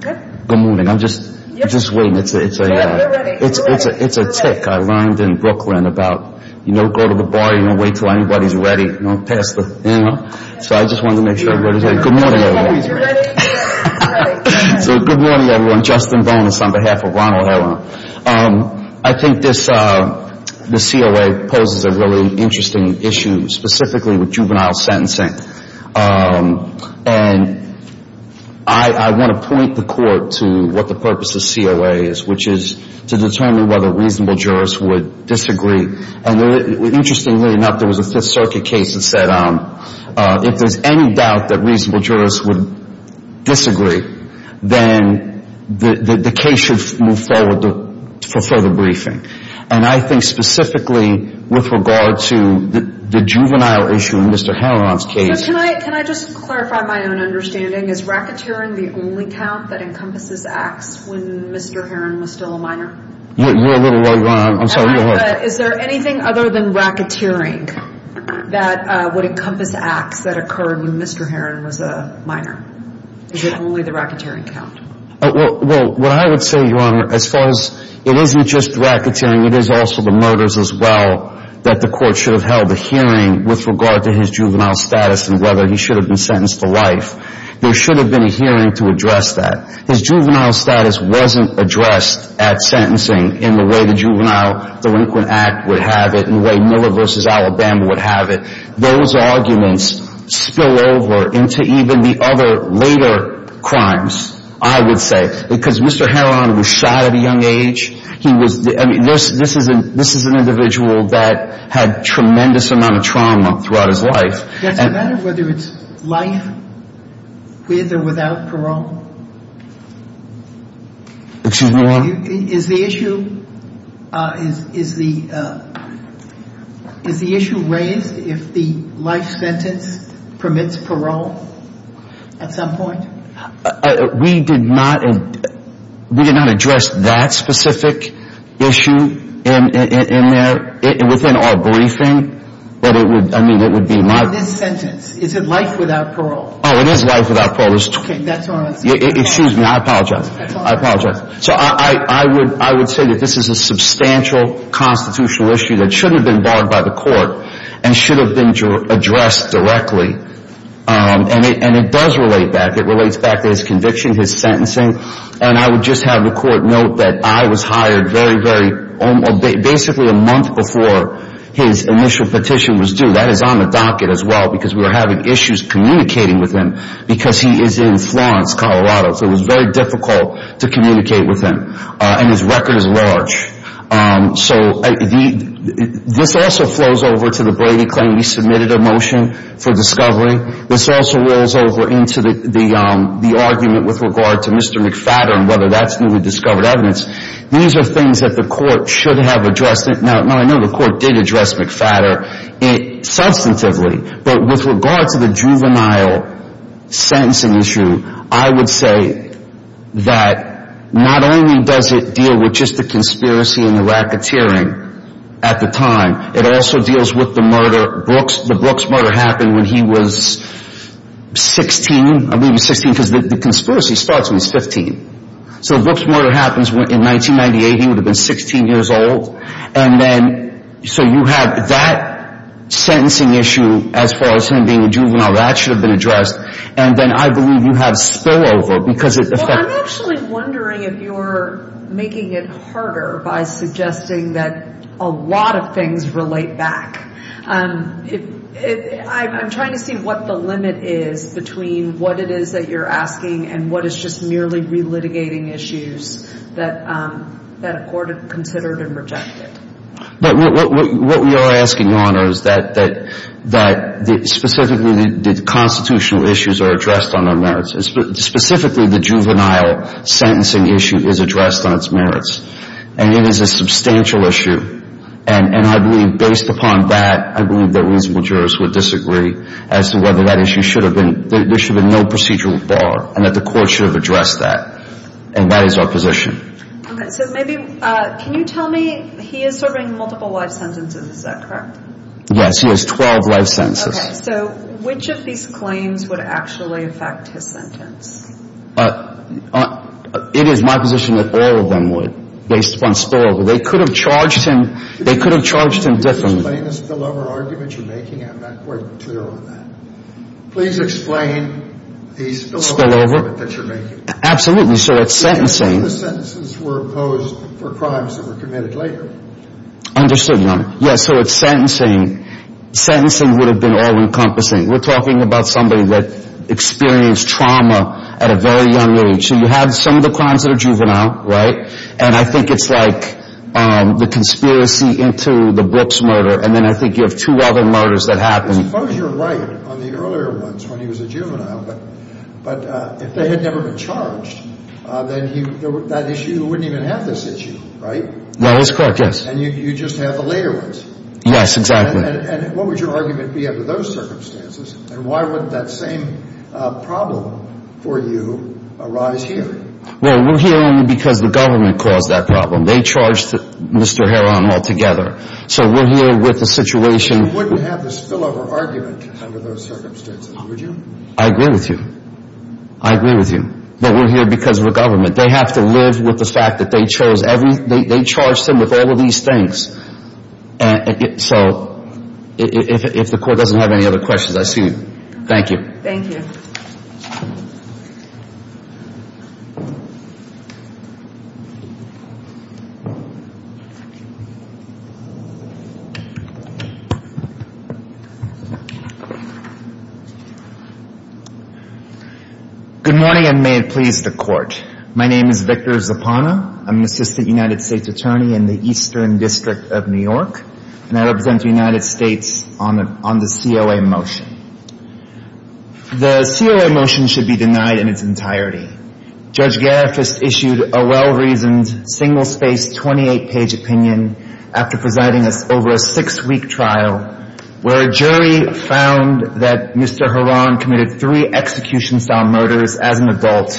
Good morning. I'm just waiting. It's a tick. I learned in Brooklyn about, you know, go to the bar, you know, wait until anybody's ready, you know, pass the, you know. So I just wanted to make sure everybody's ready. Good morning, everyone. So good morning, everyone. Justin Bonas on behalf of Ronald Herron. I think this, the COA poses a really interesting issue specifically with juvenile sentencing. And I want to point the court to what the purpose of COA is, which is to determine whether reasonable jurors would disagree. And interestingly enough, there was a Fifth Circuit case that said if there's any doubt that reasonable jurors would disagree, then the case should move forward for further briefing. And I think specifically with regard to the juvenile issue in Mr. Herron's case. Can I just clarify my own understanding? Is racketeering the only count that encompasses acts when Mr. Herron was still a minor? You're a little over, I'm sorry. Is there anything other than racketeering that would encompass acts that occurred when Mr. Herron was a minor? Is it only the racketeering count? Well, what I would say, Your Honor, as far as, it isn't just racketeering. It is also the murders as well that the court should have held a hearing with regard to his juvenile status and whether he should have been sentenced to life. There should have been a hearing to address that. His juvenile status wasn't addressed at sentencing in the way the Juvenile Delinquent Act would have it, in the way Miller v. Alabama would have it. Those arguments spill over into even the other later crimes, I would say. Because Mr. Herron was shot at a young age. I mean, this is an individual that had a tremendous amount of trauma throughout his life. Does it matter whether it's life, with or without parole? Excuse me, Your Honor? Is the issue raised if the life sentence permits parole at some point? We did not address that specific issue in there, within our briefing. But it would, I mean, it would be my... Not this sentence. Is it life without parole? Oh, it is life without parole. Okay, that's all I'm saying. Excuse me, I apologize. I apologize. So I would say that this is a substantial constitutional issue that should have been barred by the court and should have been addressed directly. And it does relate back. It relates back to his conviction, his sentencing. And I would just have the court note that I was hired very, very, basically a month before his initial petition was due. That is on the docket as well because we were having issues communicating with him because he is in Florence, Colorado. So it was very difficult to communicate with him. And his record is large. So this also flows over to the Brady claim. We submitted a motion for discovery. This also rolls over into the argument with regard to Mr. McFatter and whether that's newly discovered evidence. These are things that the court should have addressed. Now, I know the court did address McFatter substantively. But with regard to the juvenile sentencing issue, I would say that not only does it deal with just the conspiracy and the racketeering at the time, it also deals with the murder. The Brooks murder happened when he was 16. I believe he was 16 because the conspiracy starts when he's 15. So the Brooks murder happens in 1998. He would have been 16 years old. So you have that sentencing issue as far as him being a juvenile. That should have been addressed. And then I believe you have spillover. Well, I'm actually wondering if you're making it harder by suggesting that a lot of things relate back. I'm trying to see what the limit is between what it is that you're asking and what is just merely relitigating issues that a court considered and rejected. But what we are asking, Your Honor, is that specifically the constitutional issues are addressed on their merits. Specifically, the juvenile sentencing issue is addressed on its merits. And it is a substantial issue. And I believe based upon that, I believe that reasonable jurors would disagree as to whether that issue should have been. There should have been no procedural bar and that the court should have addressed that. And that is our position. So maybe can you tell me he is serving multiple life sentences? Is that correct? Yes, he has 12 life sentences. So which of these claims would actually affect his sentence? It is my position that all of them would based upon spillover. They could have charged him differently. Can you explain the spillover argument you're making? I'm not quite clear on that. Please explain the spillover argument that you're making. Absolutely. So it's sentencing. The sentences were imposed for crimes that were committed later. Understood, Your Honor. Yes, so it's sentencing. Sentencing would have been all-encompassing. We're talking about somebody that experienced trauma at a very young age. So you have some of the crimes that are juvenile, right? And I think it's like the conspiracy into the Brooks murder. And then I think you have two other murders that happened. Suppose you're right on the earlier ones when he was a juvenile. But if they had never been charged, then that issue wouldn't even have this issue, right? That is correct, yes. And you just have the later ones. Yes, exactly. And what would your argument be under those circumstances? And why would that same problem for you arise here? Well, we're here only because the government caused that problem. They charged Mr. Heron altogether. So we're here with the situation. You wouldn't have this spillover argument under those circumstances, would you? I agree with you. I agree with you. But we're here because of the government. They have to live with the fact that they chose everything. They charged him with all of these things. So if the Court doesn't have any other questions, I see you. Thank you. Thank you. Thank you. Good morning, and may it please the Court. My name is Victor Zapana. I'm the Assistant United States Attorney in the Eastern District of New York. And I represent the United States on the COA motion. The COA motion should be denied in its entirety. Judge Gariffist issued a well-reasoned, single-spaced, 28-page opinion after presiding over a six-week trial where a jury found that Mr. Harran committed three execution-style murders as an adult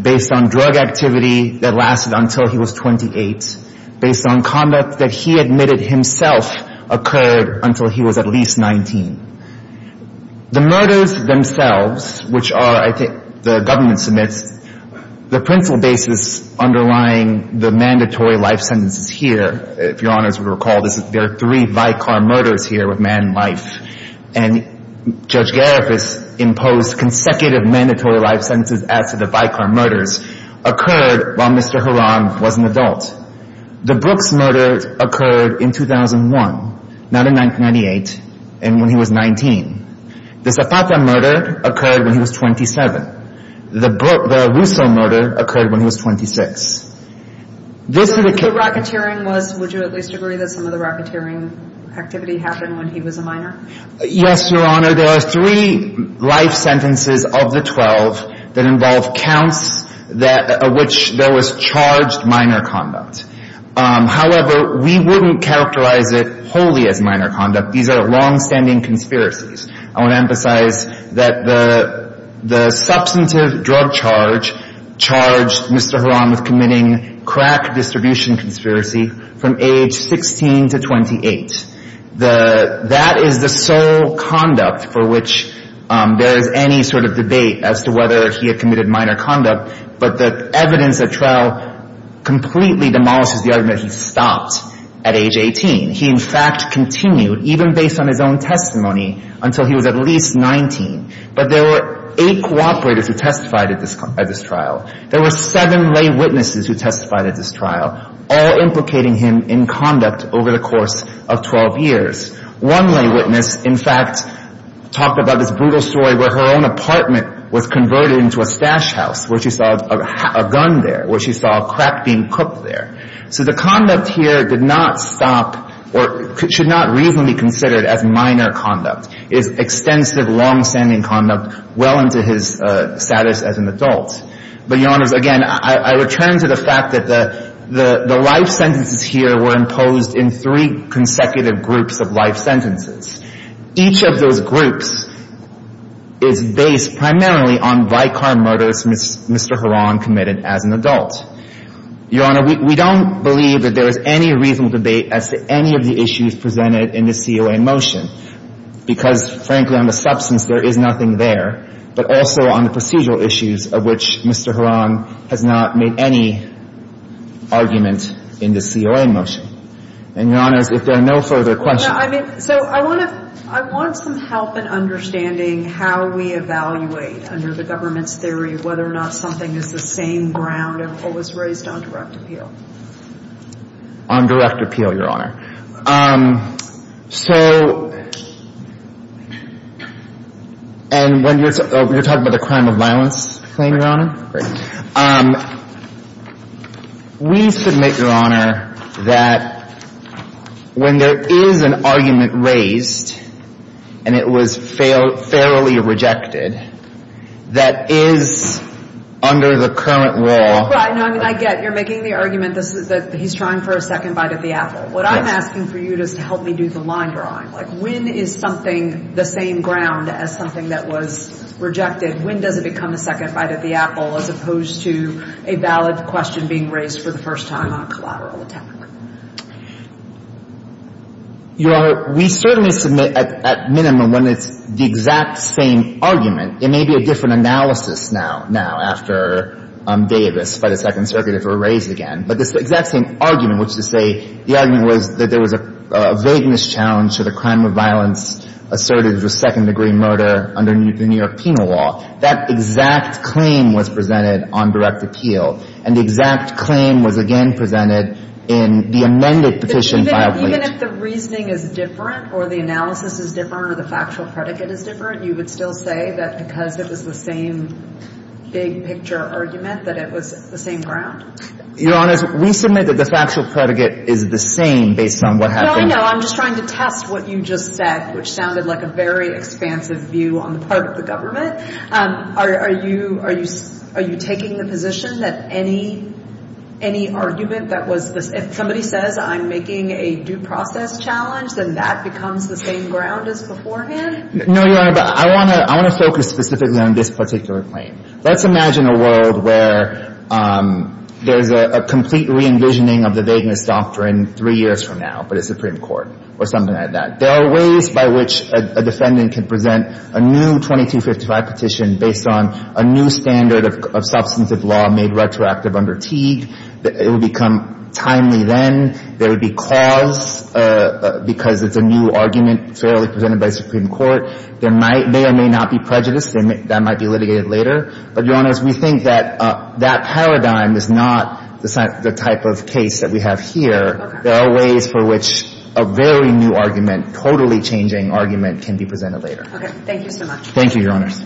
based on drug activity that lasted until he was 28, based on conduct that he admitted himself occurred until he was at least 19. The murders themselves, which are, I think, the government submits, the principal basis underlying the mandatory life sentences here, if Your Honors would recall, there are three Vicar murders here with man and life. And Judge Gariffist imposed consecutive mandatory life sentences as to the Vicar murders occurred while Mr. Harran was an adult. The Brooks murder occurred in 2001, not in 1998, and when he was 19. The Zapata murder occurred when he was 27. The Russo murder occurred when he was 26. The racketeering was, would you at least agree, that some of the racketeering activity happened when he was a minor? Yes, Your Honor. There are three life sentences of the 12 that involve counts that, of which there was charged minor conduct. However, we wouldn't characterize it wholly as minor conduct. These are longstanding conspiracies. I want to emphasize that the substantive drug charge charged Mr. Harran with committing crack distribution conspiracy from age 16 to 28. That is the sole conduct for which there is any sort of debate as to whether he had committed minor conduct. But the evidence at trial completely demolishes the argument that he stopped at age 18. He, in fact, continued, even based on his own testimony, until he was at least 19. But there were eight cooperators who testified at this trial. There were seven lay witnesses who testified at this trial, all implicating him in conduct over the course of 12 years. One lay witness, in fact, talked about this brutal story where her own apartment was converted into a stash house where she saw a gun there, where she saw crack being cooked there. So the conduct here did not stop or should not reasonably be considered as minor conduct. It is extensive, longstanding conduct well into his status as an adult. But, Your Honors, again, I return to the fact that the life sentences here were imposed in three consecutive groups of life sentences. Each of those groups is based primarily on vicar murders Mr. Harran committed as an adult. Your Honor, we don't believe that there is any reasonable debate as to any of the issues presented in the COA motion, because, frankly, on the substance there is nothing there, but also on the procedural issues of which Mr. Harran has not made any argument in the COA motion. And, Your Honors, if there are no further questions. So I want to – I want some help in understanding how we evaluate under the government's theory whether or not something is the same ground of what was raised on direct appeal. On direct appeal, Your Honor. So – and when you're – you're talking about the crime of violence claim, Your Honor. Right. We submit, Your Honor, that when there is an argument raised, and it was fairly rejected, that is under the current law. Right. No, I mean, I get you're making the argument that he's trying for a second bite at the I'm asking for you just to help me do the line drawing. Like, when is something the same ground as something that was rejected? When does it become a second bite at the apple as opposed to a valid question being raised for the first time on a collateral attack? Your Honor, we certainly submit at minimum when it's the exact same argument. It may be a different analysis now – now after Davis, by the Second Circuit, if it were raised again. But it's the exact same argument, which is to say the argument was that there was a vagueness challenge to the crime of violence asserted as a second-degree murder under the New York penal law. That exact claim was presented on direct appeal. And the exact claim was again presented in the amended petition filed late. But even if the reasoning is different or the analysis is different or the factual predicate is different, you would still say that because it was the same big-picture argument that it was the same ground? Your Honor, we submit that the factual predicate is the same based on what happened – No, I know. I'm just trying to test what you just said, which sounded like a very expansive view on the part of the government. Are you taking the position that any argument that was – if somebody says I'm making a due process challenge, then that becomes the same ground as beforehand? No, Your Honor. But I want to focus specifically on this particular claim. Let's imagine a world where there's a complete re-envisioning of the vagueness doctrine three years from now, but it's the Supreme Court or something like that. There are ways by which a defendant can present a new 2255 petition based on a new standard of substantive law made retroactive under Teague. It would become timely then. There would be cause because it's a new argument fairly presented by the Supreme Court. There may or may not be prejudice. That might be litigated later. But, Your Honors, we think that that paradigm is not the type of case that we have here. There are ways for which a very new argument, totally changing argument, can be presented later. Okay. Thank you so much. Thank you, Your Honors.